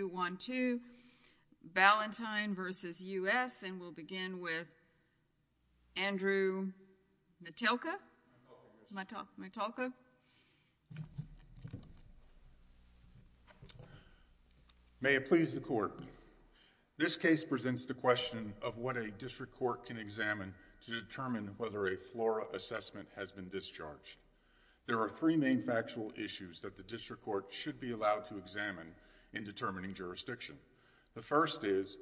and we'll begin with Andrew Matalka. May it please the court, this case presents the question of what a district court can examine to determine whether a FLORA assessment has been discharged. There are three main factual issues that the district court should be allowed to examine in determining jurisdiction. The first is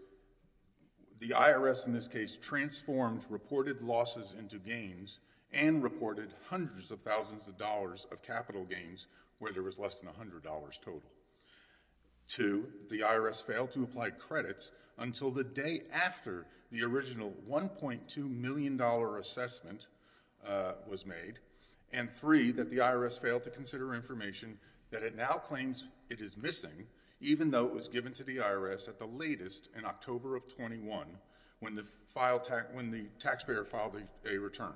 the IRS in this case transformed reported losses into gains and reported hundreds of thousands of dollars of capital gains where there was less than $100 total. Two, the IRS failed to apply credits until the day after the original $1.2 million assessment was made and three, that the IRS failed to consider information that it now claims it is missing even though it was given to the IRS at the latest in October of 21 when the taxpayer filed a return.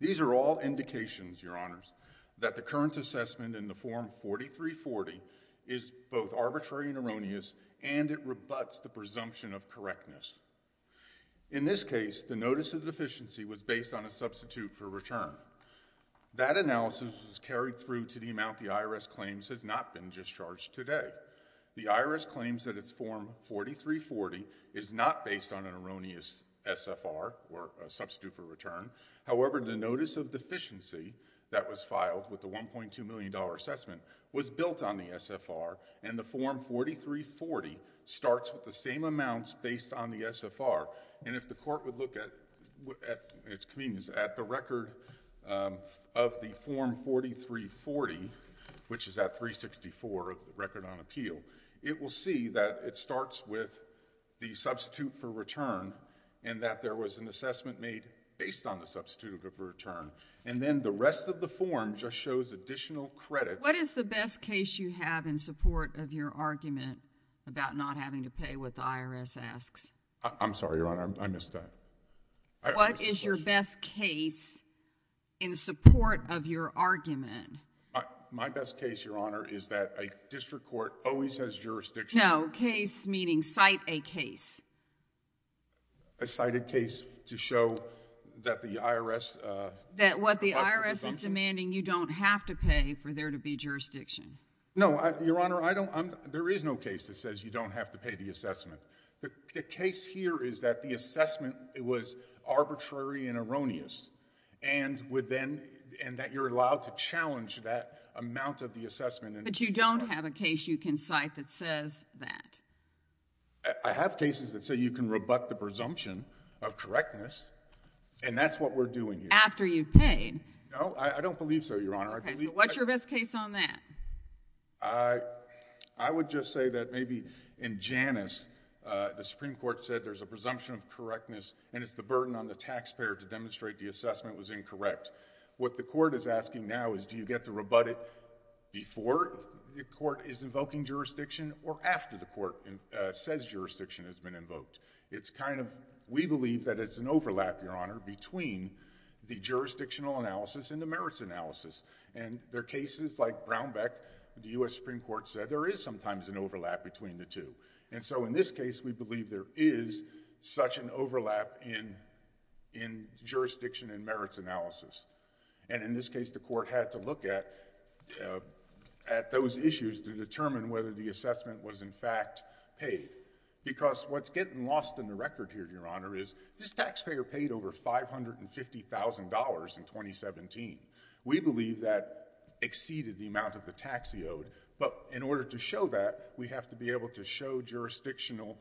These are all indications, your honors, that the current assessment in the form 4340 is both arbitrary and erroneous and it rebuts the presumption of correctness. In this case, the notice of deficiency was based on a substitute for return. That analysis was carried through to the amount the IRS claims has not been discharged today. The IRS claims that its form 4340 is not based on an erroneous SFR or a substitute for return. However, the notice of deficiency that was filed with the $1.2 million assessment was built on the SFR and the form 4340 starts with the same amounts based on the SFR and if the court would look at the record of the form 4340, which is at 364 of the record on appeal, it will see that it starts with the substitute for return and that there was an assessment made based on the substitute for return and then the rest of the form just shows additional credits. What is the best case you have in support of your argument about not having to pay what the IRS asks? I'm sorry, Your Honor. I missed that. What is your best case in support of your argument? My best case, Your Honor, is that a district court always has jurisdiction. No. Case meaning cite a case. A cited case to show that the IRS... That what the IRS is demanding, you don't have to pay for there to be jurisdiction. No. Your Honor, I don't. There is no case that says you don't have to pay the assessment. The case here is that the assessment was arbitrary and erroneous and that you're allowed to challenge that amount of the assessment... But you don't have a case you can cite that says that. I have cases that say you can rebut the presumption of correctness and that's what we're doing here. After you've paid. No, I don't believe so, Your Honor. Okay, so what's your best case on that? I would just say that maybe in Janus, the Supreme Court said there's a presumption of correctness and it's the burden on the taxpayer to demonstrate the assessment was incorrect. What the court is asking now is do you get to rebut it before the court is invoking jurisdiction or after the court says jurisdiction has been invoked? It's kind of, we believe that it's an overlap, Your Honor, between the jurisdictional analysis and the merits analysis. And there are cases like Brownback, the U.S. Supreme Court said there is sometimes an overlap between the two. And so in this case, we believe there is such an overlap in jurisdiction and merits analysis. And in this case, the court had to look at those issues to determine whether the assessment was in fact paid. Because what's getting lost in the record here, Your Honor, is this taxpayer paid over $550,000 in 2017. We believe that exceeded the amount of the tax he owed. But in order to show that, we have to be able to show jurisdictional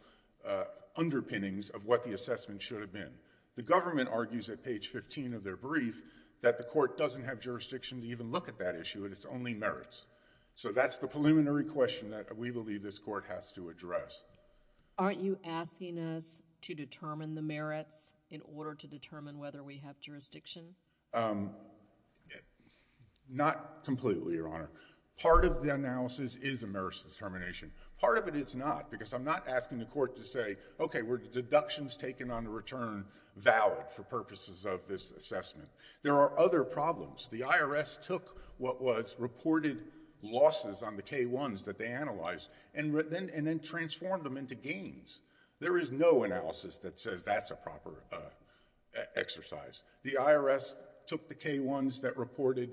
underpinnings of what the assessment should have been. The government argues at page 15 of their brief that the court doesn't have jurisdiction to even look at that issue and it's only merits. So that's the preliminary question that we believe this court has to address. Aren't you asking us to determine the merits in order to determine whether we have jurisdiction? Not completely, Your Honor. Part of the analysis is a merits determination. Part of it is not, because I'm not asking the court to say, OK, were the deductions taken on the return valid for purposes of this assessment? There are other problems. The IRS took what was reported losses on the K-1s that they analyzed and then transformed them into gains. There is no analysis that says that's a proper exercise. The IRS took the K-1s that reported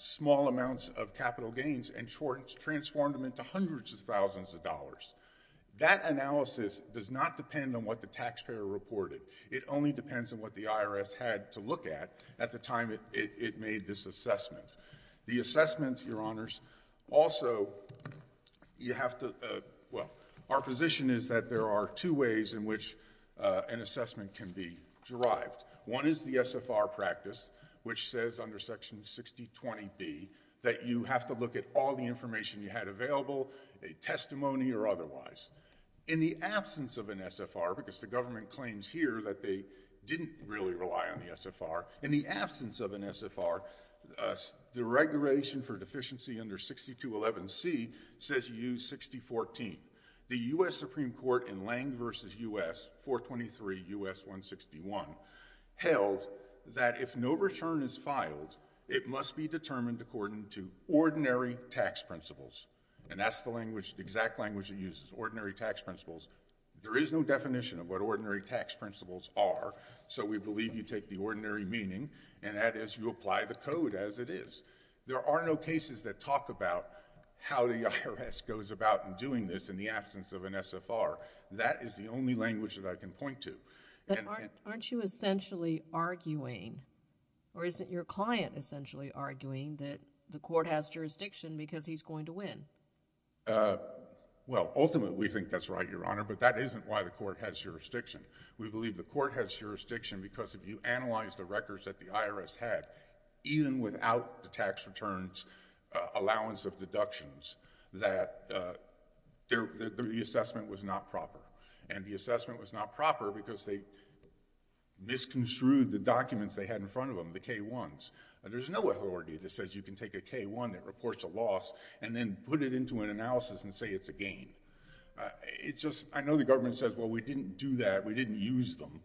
small amounts of capital gains and transformed them into hundreds of thousands of dollars. That analysis does not depend on what the taxpayer reported. It only depends on what the IRS had to look at at the time it made this assessment. The assessment, Your Honors, also, you have to, well, our position is that there are two ways in which an assessment can be derived. One is the SFR practice, which says under Section 6020B that you have to look at all the information you had available, a testimony or otherwise. In the absence of an SFR, because the government claims here that they didn't really rely on the SFR, in the absence of an SFR, the regulation for deficiency under 6211C says you use 6014. The U.S. Supreme Court in Lange v. U.S., 423 U.S. 161, held that if no return is filed, it must be determined according to ordinary tax principles, and that's the exact language it uses, ordinary tax principles. There is no definition of what ordinary tax principles are, so we believe you take the ordinary meaning, and that is you apply the code as it is. There are no cases that talk about how the IRS goes about in doing this in the absence of an SFR. That is the only language that I can point to. But aren't you essentially arguing, or isn't your client essentially arguing that the court has jurisdiction because he's going to win? Well, ultimately, we think that's right, Your Honor, but that isn't why the court has jurisdiction. We believe the court has jurisdiction because if you analyze the records that the IRS had, even without the tax returns allowance of deductions, that the assessment was not proper, and the assessment was not proper because they misconstrued the documents they had in front of them, the K-1s. There's no authority that says you can take a K-1 that reports a loss and then put it into an analysis and say it's a gain. I know the government says, well, we didn't do that, we didn't use them,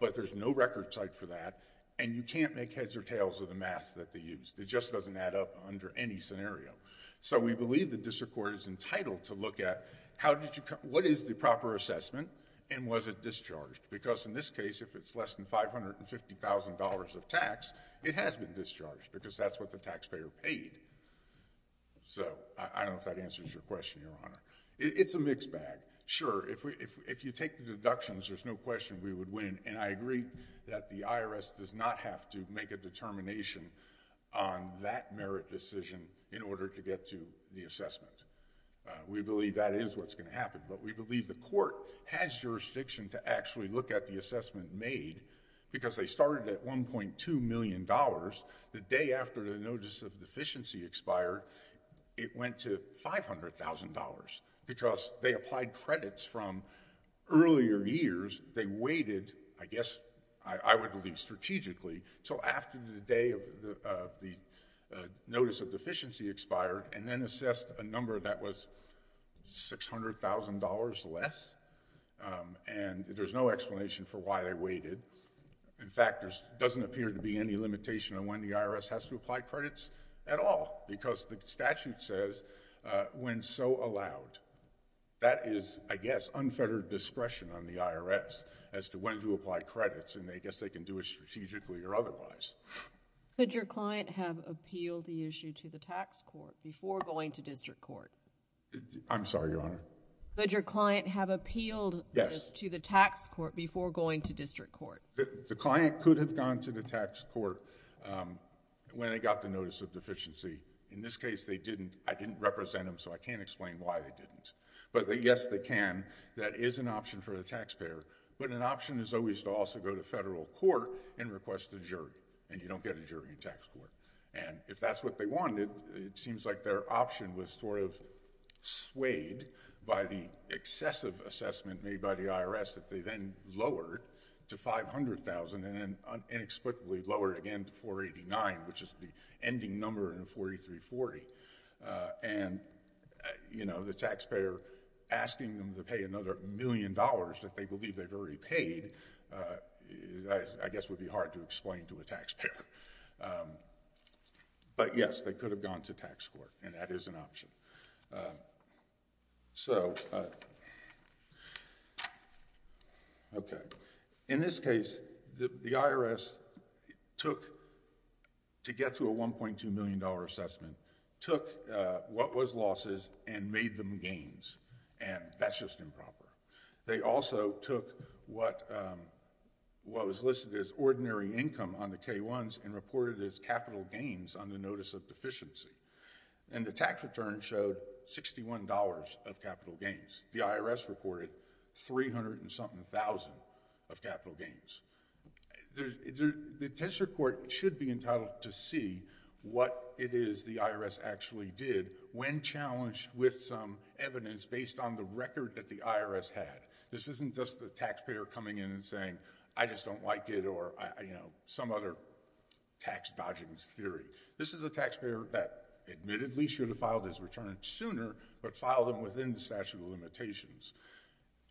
but there's no record type for that, and you can't make heads or tails of the math that they used. It just doesn't add up under any scenario. So we believe the district court is entitled to look at what is the proper assessment and was it discharged? Because in this case, if it's less than $550,000 of tax, it has been discharged because that's what the taxpayer paid. So I don't know if that answers your question, Your Honor. It's a mixed bag. Sure. If you take the deductions, there's no question we would win, and I agree that the IRS does not have to make a determination on that merit decision in order to get to the assessment. We believe that is what's going to happen, but we believe the court has jurisdiction to actually look at the assessment made because they started at $1.2 million. The day after the notice of deficiency expired, it went to $500,000 because they applied credits from earlier years. They waited, I guess I would believe strategically, until after the day of the notice of deficiency expired and then assessed a number that was $600,000 less, and there's no explanation for why they waited. In fact, there doesn't appear to be any limitation on when the IRS has to apply credits at all because the statute says when so allowed. That is, I guess, unfettered discretion on the IRS as to when to apply credits, and I guess they can do it strategically or otherwise. Could your client have appealed the issue to the tax court before going to district court? I'm sorry, Your Honor. Could your client have appealed this to the tax court before going to district court? The client could have gone to the tax court when they got the notice of deficiency. In this case, they didn't. I didn't represent them, so I can't explain why they didn't, but yes, they can. That is an option for the taxpayer, but an option is always to also go to federal court and request a jury, and you don't get a jury in tax court. If that's what they wanted, it seems like their option was swayed by the excessive assessment made by the IRS that they then lowered to $500,000 and then inexplicably lowered again to $489,000, which is the ending number in a 4340, and the taxpayer asking them to pay another million dollars that they believe they've already paid, I guess would be hard to explain to a taxpayer, but yes, they could have gone to tax court, and that is an option. In this case, the IRS took, to get to a $1.2 million assessment, took what was losses and made them gains, and that's just improper. They also took what was listed as ordinary income on the K-1s and reported it as capital gains on the notice of deficiency. The tax return showed $61 of capital gains. The IRS reported 300 and something thousand of capital gains. The test report should be entitled to see what it is the IRS actually did when challenged with some evidence based on the record that the IRS had. This isn't just the taxpayer coming in and saying, I just don't like it, or some other tax dodging theory. This is a taxpayer that admittedly should have filed his return sooner, but filed it within the statute of limitations,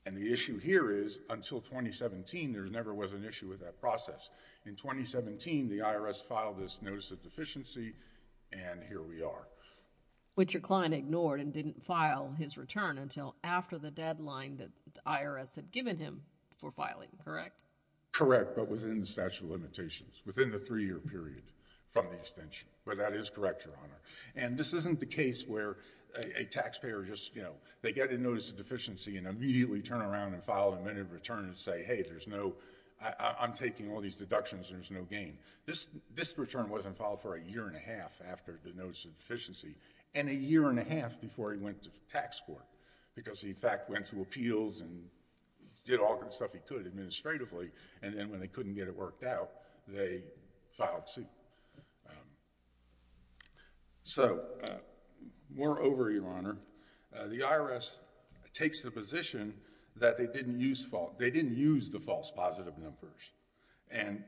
and the issue here is, until 2017, there never was an issue with that process. In 2017, the IRS filed this notice of deficiency, and here we are. Which your client ignored and didn't file his return until after the deadline that the IRS had given him for filing, correct? Correct, but within the statute of limitations, within the three-year period from the extension But that is correct, Your Honor. And this isn't the case where a taxpayer just, you know, they get a notice of deficiency and immediately turn around and file an admitted return and say, hey, there's no, I'm taking all these deductions, there's no gain. This return wasn't filed for a year and a half after the notice of deficiency, and a year and a half before he went to the tax court, because he, in fact, went to appeals and did all the stuff he could administratively, and then when they couldn't get it worked out, they filed suit. So moreover, Your Honor, the IRS takes the position that they didn't use the false positive numbers, and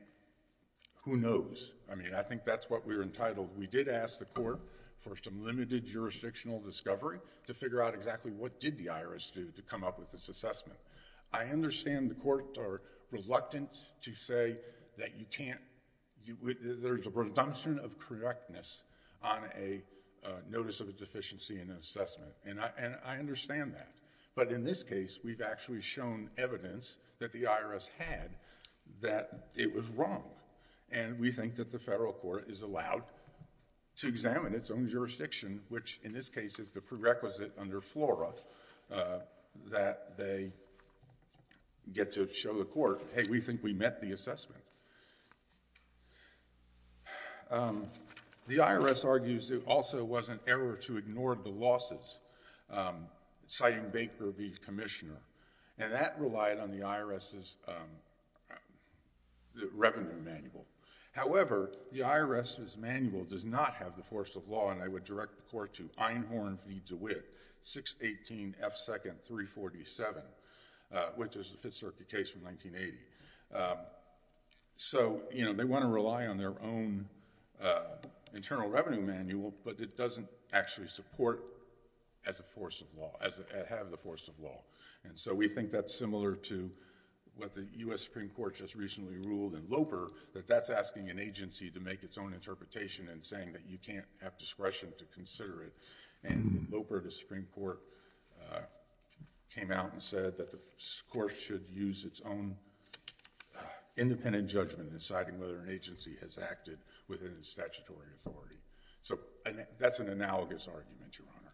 who knows, I mean, I think that's what we're entitled. We did ask the court for some limited jurisdictional discovery to figure out exactly what did the IRS do to come up with this assessment. I understand the courts are reluctant to say that you can't, there's a redemption of correctness on a notice of a deficiency in an assessment, and I understand that. But in this case, we've actually shown evidence that the IRS had that it was wrong, and we think that the federal court is allowed to examine its own jurisdiction, which in this case is the prerequisite under FLORA, that they get to show the court, hey, we think we met the assessment. The IRS argues it also was an error to ignore the losses, citing Baker being commissioner, and that relied on the IRS's revenue manual. However, the IRS's manual does not have the force of law, and I would direct the court to Einhorn v. DeWitt, 618 F. 2nd, 347, which is the Fifth Circuit case from 1980. So they want to rely on their own internal revenue manual, but it doesn't actually support as a force of law, as a head of the force of law, and so we think that's similar to what the U.S. Supreme Court just recently ruled in Loper, that that's asking an agency to make its own interpretation and saying that you can't have discretion to consider it. And in Loper, the Supreme Court came out and said that the court should use its own independent judgment in deciding whether an agency has acted within its statutory authority. So that's an analogous argument, Your Honor.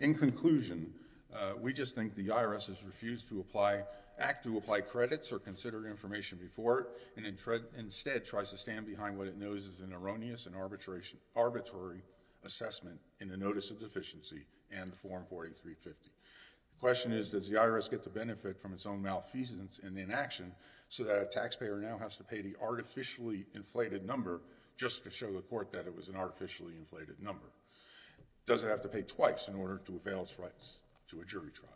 In conclusion, we just think the IRS has refused to act to apply credits or consider information before it, and instead tries to stand behind what it knows is an erroneous and arbitrary assessment in the Notice of Deficiency and the Form 48350. The question is, does the IRS get the benefit from its own malfeasance in the inaction, so that a taxpayer now has to pay the artificially inflated number just to show the court that it was an artificially inflated number? Does it have to pay twice in order to avail its rights to a jury trial?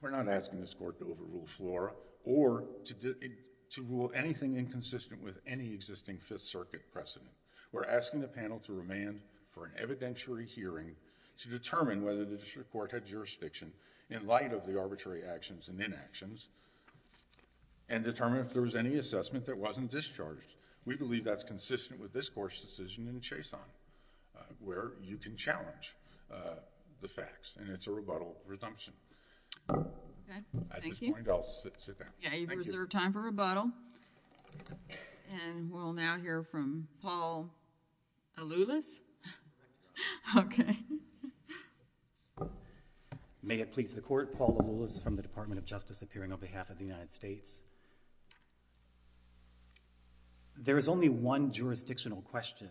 We're not asking this court to overrule FLORA or to rule anything inconsistent with any existing Fifth Circuit precedent. We're asking the panel to remand for an evidentiary hearing to determine whether the district court had jurisdiction in light of the arbitrary actions and inactions, and determine if there was any assessment that wasn't discharged. We believe that's consistent with this court's decision in the Chason, where you can challenge the facts, and it's a rebuttal resumption. At this point, I'll sit down. Thank you. Yeah, you've reserved time for rebuttal, and we'll now hear from Paul Aloulis. Okay. May it please the Court, Paul Aloulis from the Department of Justice, appearing on behalf of the United States. There is only one jurisdictional question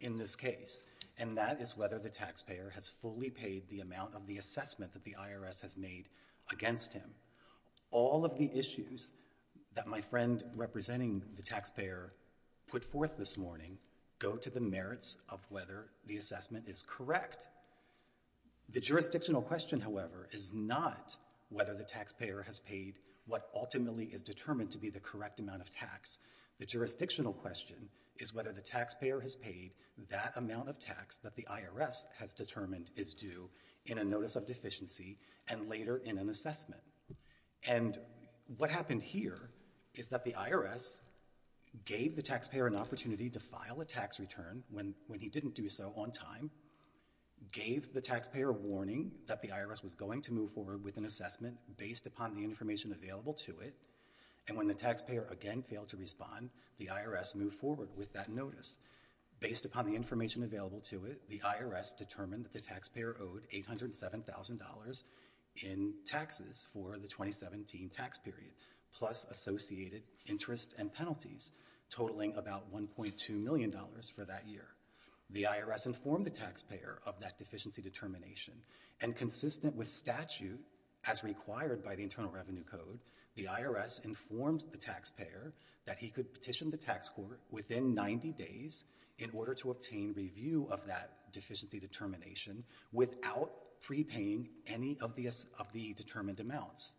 in this case, and that is whether the taxpayer has fully paid the amount of the assessment that the IRS has made against him. All of the issues that my friend representing the taxpayer put forth this morning go to the merits of whether the assessment is correct. The jurisdictional question, however, is not whether the taxpayer has paid what ultimately is determined to be the correct amount of tax. The jurisdictional question is whether the taxpayer has paid that amount of tax that the IRS has determined is due in a notice of deficiency and later in an assessment. And what happened here is that the IRS gave the taxpayer an opportunity to file a tax return when he didn't do so on time, gave the taxpayer a warning that the IRS was going to move forward with an assessment based upon the information available to it, and when the taxpayer again failed to respond, the IRS moved forward with that notice. Based upon the information available to it, the IRS determined that the taxpayer owed $807,000 in taxes for the 2017 tax period, plus associated interest and penalties, totaling about $1.2 million for that year. The IRS informed the taxpayer of that deficiency determination, and consistent with statute as required by the Internal Revenue Code, the IRS informed the taxpayer that he could petition the tax court within 90 days in order to obtain review of that deficiency determination without prepaying any of the determined amounts.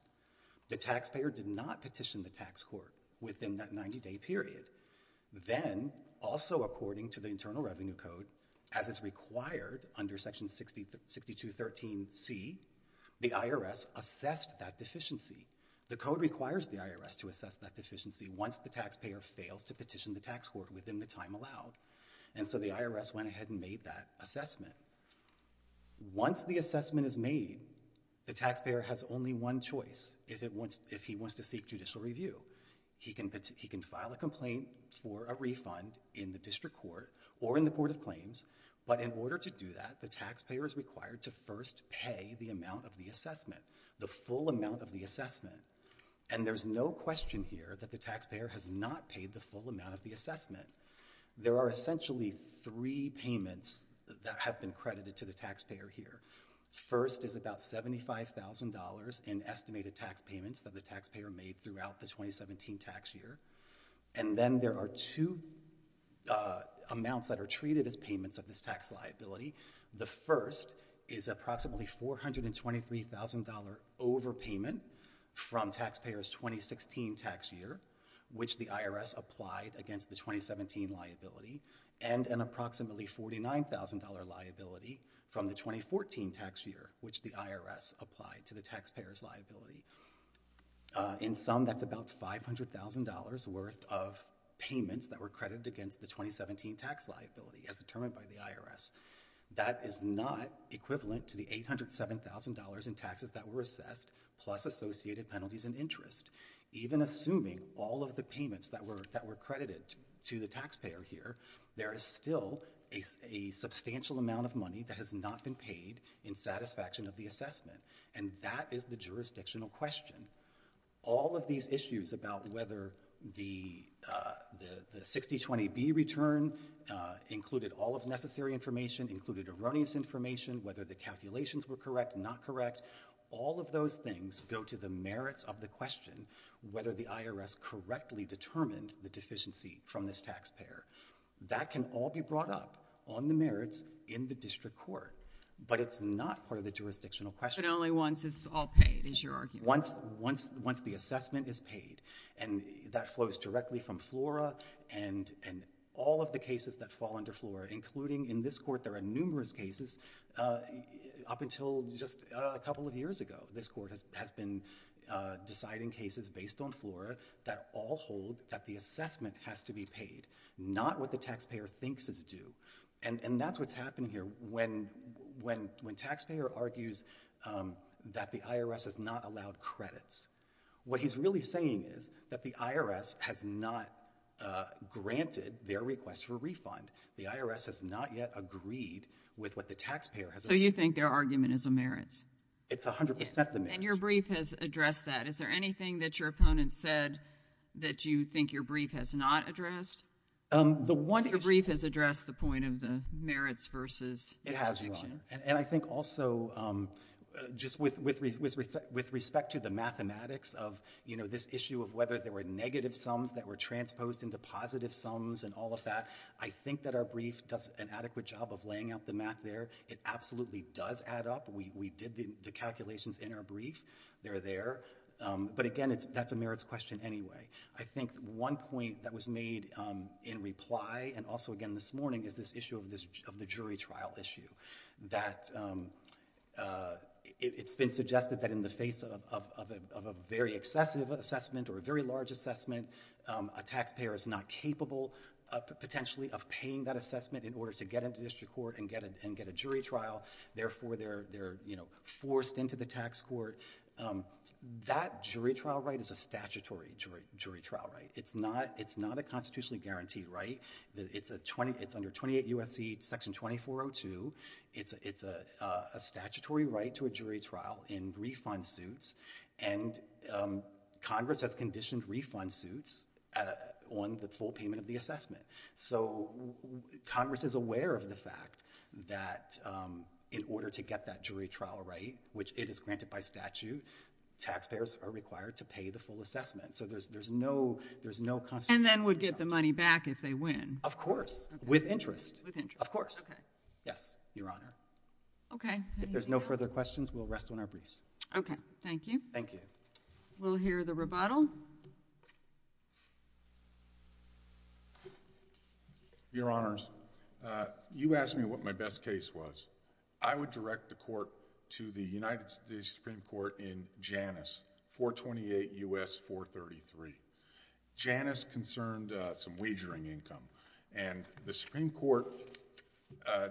The taxpayer did not petition the tax court within that 90-day period. Then, also according to the Internal Revenue Code, as is required under Section 6213c, the IRS assessed that deficiency. The Code requires the IRS to assess that deficiency once the taxpayer fails to petition the tax court within the time allowed, and so the IRS went ahead and made that assessment. Once the assessment is made, the taxpayer has only one choice if he wants to seek judicial review. He can file a complaint for a refund in the district court or in the court of claims, but in order to do that, the taxpayer is required to first pay the amount of the assessment, the full amount of the assessment, and there's no question here that the taxpayer has not paid the full amount of the assessment. There are essentially three payments that have been credited to the taxpayer here. First is about $75,000 in estimated tax payments that the taxpayer made throughout the 2017 tax year, and then there are two amounts that are treated as payments of this tax liability. The first is approximately $423,000 overpayment from taxpayers' 2016 tax year, which the IRS applied against the 2017 liability, and an approximately $49,000 liability from the 2014 tax year, which the IRS applied to the taxpayer's liability. In sum, that's about $500,000 worth of payments that were credited against the 2017 tax liability as determined by the IRS. That is not equivalent to the $807,000 in taxes that were assessed, plus associated penalties and interest. Even assuming all of the payments that were credited to the taxpayer here, there is still a substantial amount of money that has not been paid in satisfaction of the assessment, and that is the jurisdictional question. All of these issues about whether the 60-20B return included all of necessary information, included erroneous information, whether the calculations were correct, not correct, all of those things go to the merits of the question whether the IRS correctly determined the deficiency from this taxpayer. That can all be brought up on the merits in the district court, but it's not part of the jurisdictional question. But only once it's all paid, is your argument? Once the assessment is paid, and that flows directly from FLORA, and all of the cases that fall under FLORA, including in this court, there are numerous cases up until just a couple of years ago. This court has been deciding cases based on FLORA that all hold that the assessment has to be paid, not what the taxpayer thinks is due, and that's what's happened here. When taxpayer argues that the IRS has not allowed credits, what he's really saying is that the IRS has not granted their request for refund. The IRS has not yet agreed with what the taxpayer has agreed. So you think their argument is the merits? It's 100% the merits. And your brief has addressed that. Is there anything that your opponent said that you think your brief has not addressed? Your brief has addressed the point of the merits versus jurisdiction. It has, Your Honor. And I think also, just with respect to the mathematics of this issue of whether there were negative sums that were transposed into positive sums and all of that, I think that our brief does an adequate job of laying out the math there. It absolutely does add up. We did the calculations in our brief. They're there. But again, that's a merits question anyway. I think one point that was made in reply, and also again this morning, is this issue of the jury trial issue. It's been suggested that in the face of a very excessive assessment or a very large assessment, a taxpayer is not capable, potentially, of paying that assessment in order to get into district court and get a jury trial, therefore they're forced into the tax court. That jury trial right is a statutory jury trial right. It's not a constitutionally guaranteed right. It's under 28 U.S.C. Section 2402. It's a statutory right to a jury trial in refund suits, and Congress has conditioned refund suits on the full payment of the assessment. So Congress is aware of the fact that in order to get that jury trial right, which it is by statute, taxpayers are required to pay the full assessment. So there's no constitutional. And then would get the money back if they win. Of course. With interest. With interest. Of course. Okay. Yes, Your Honor. Okay. If there's no further questions, we'll rest on our briefs. Okay. Thank you. Thank you. We'll hear the rebuttal. Your Honors, you asked me what my best case was. I would direct the court to the United States Supreme Court in Janus, 428 U.S. 433. Janus concerned some wagering income, and the Supreme Court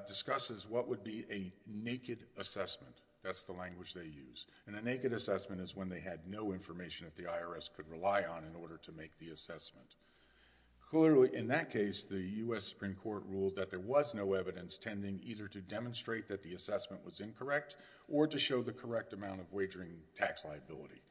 discusses what would be a naked assessment. That's the language they used. A naked assessment is when they had no information that the IRS could rely on in order to make the assessment. Clearly, in that case, the U.S. Supreme Court ruled that there was no evidence tending either to demonstrate that the assessment was incorrect or to show the correct amount of wagering tax liability.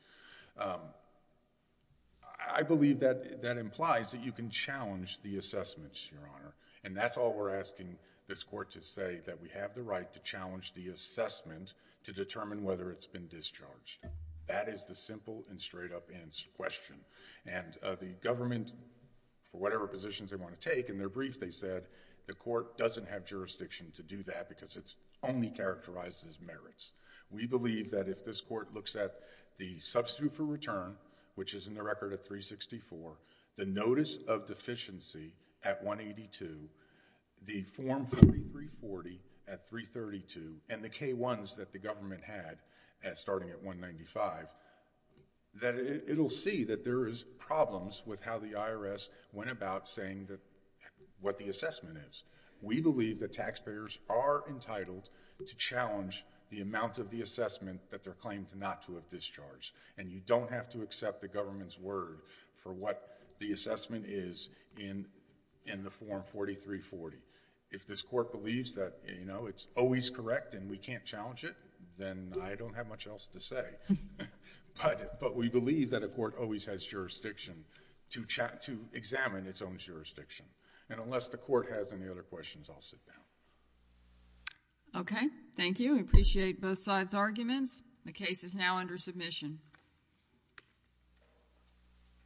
I believe that implies that you can challenge the assessments, Your Honor. And that's all we're asking this court to say, that we have the right to challenge the assessment to determine whether it's been discharged. That is the simple and straight up answer to the question. And the government, for whatever positions they want to take, in their brief they said the court doesn't have jurisdiction to do that because it only characterizes merits. We believe that if this court looks at the substitute for return, which is in the record at 364, the notice of deficiency at 182, the form 4340 at 332, and the K-1s that the government had starting at 195, that it will see that there is problems with how the IRS went about saying what the assessment is. We believe that taxpayers are entitled to challenge the amount of the assessment that they're claimed not to have discharged. And you don't have to accept the government's word for what the assessment is in the form 4340. If this court believes that it's always correct and we can't challenge it, then I don't have much else to say. But we believe that a court always has jurisdiction to examine its own jurisdiction. And unless the court has any other questions, I'll sit down. Okay. Thank you. I appreciate both sides' arguments. The case is now under submission.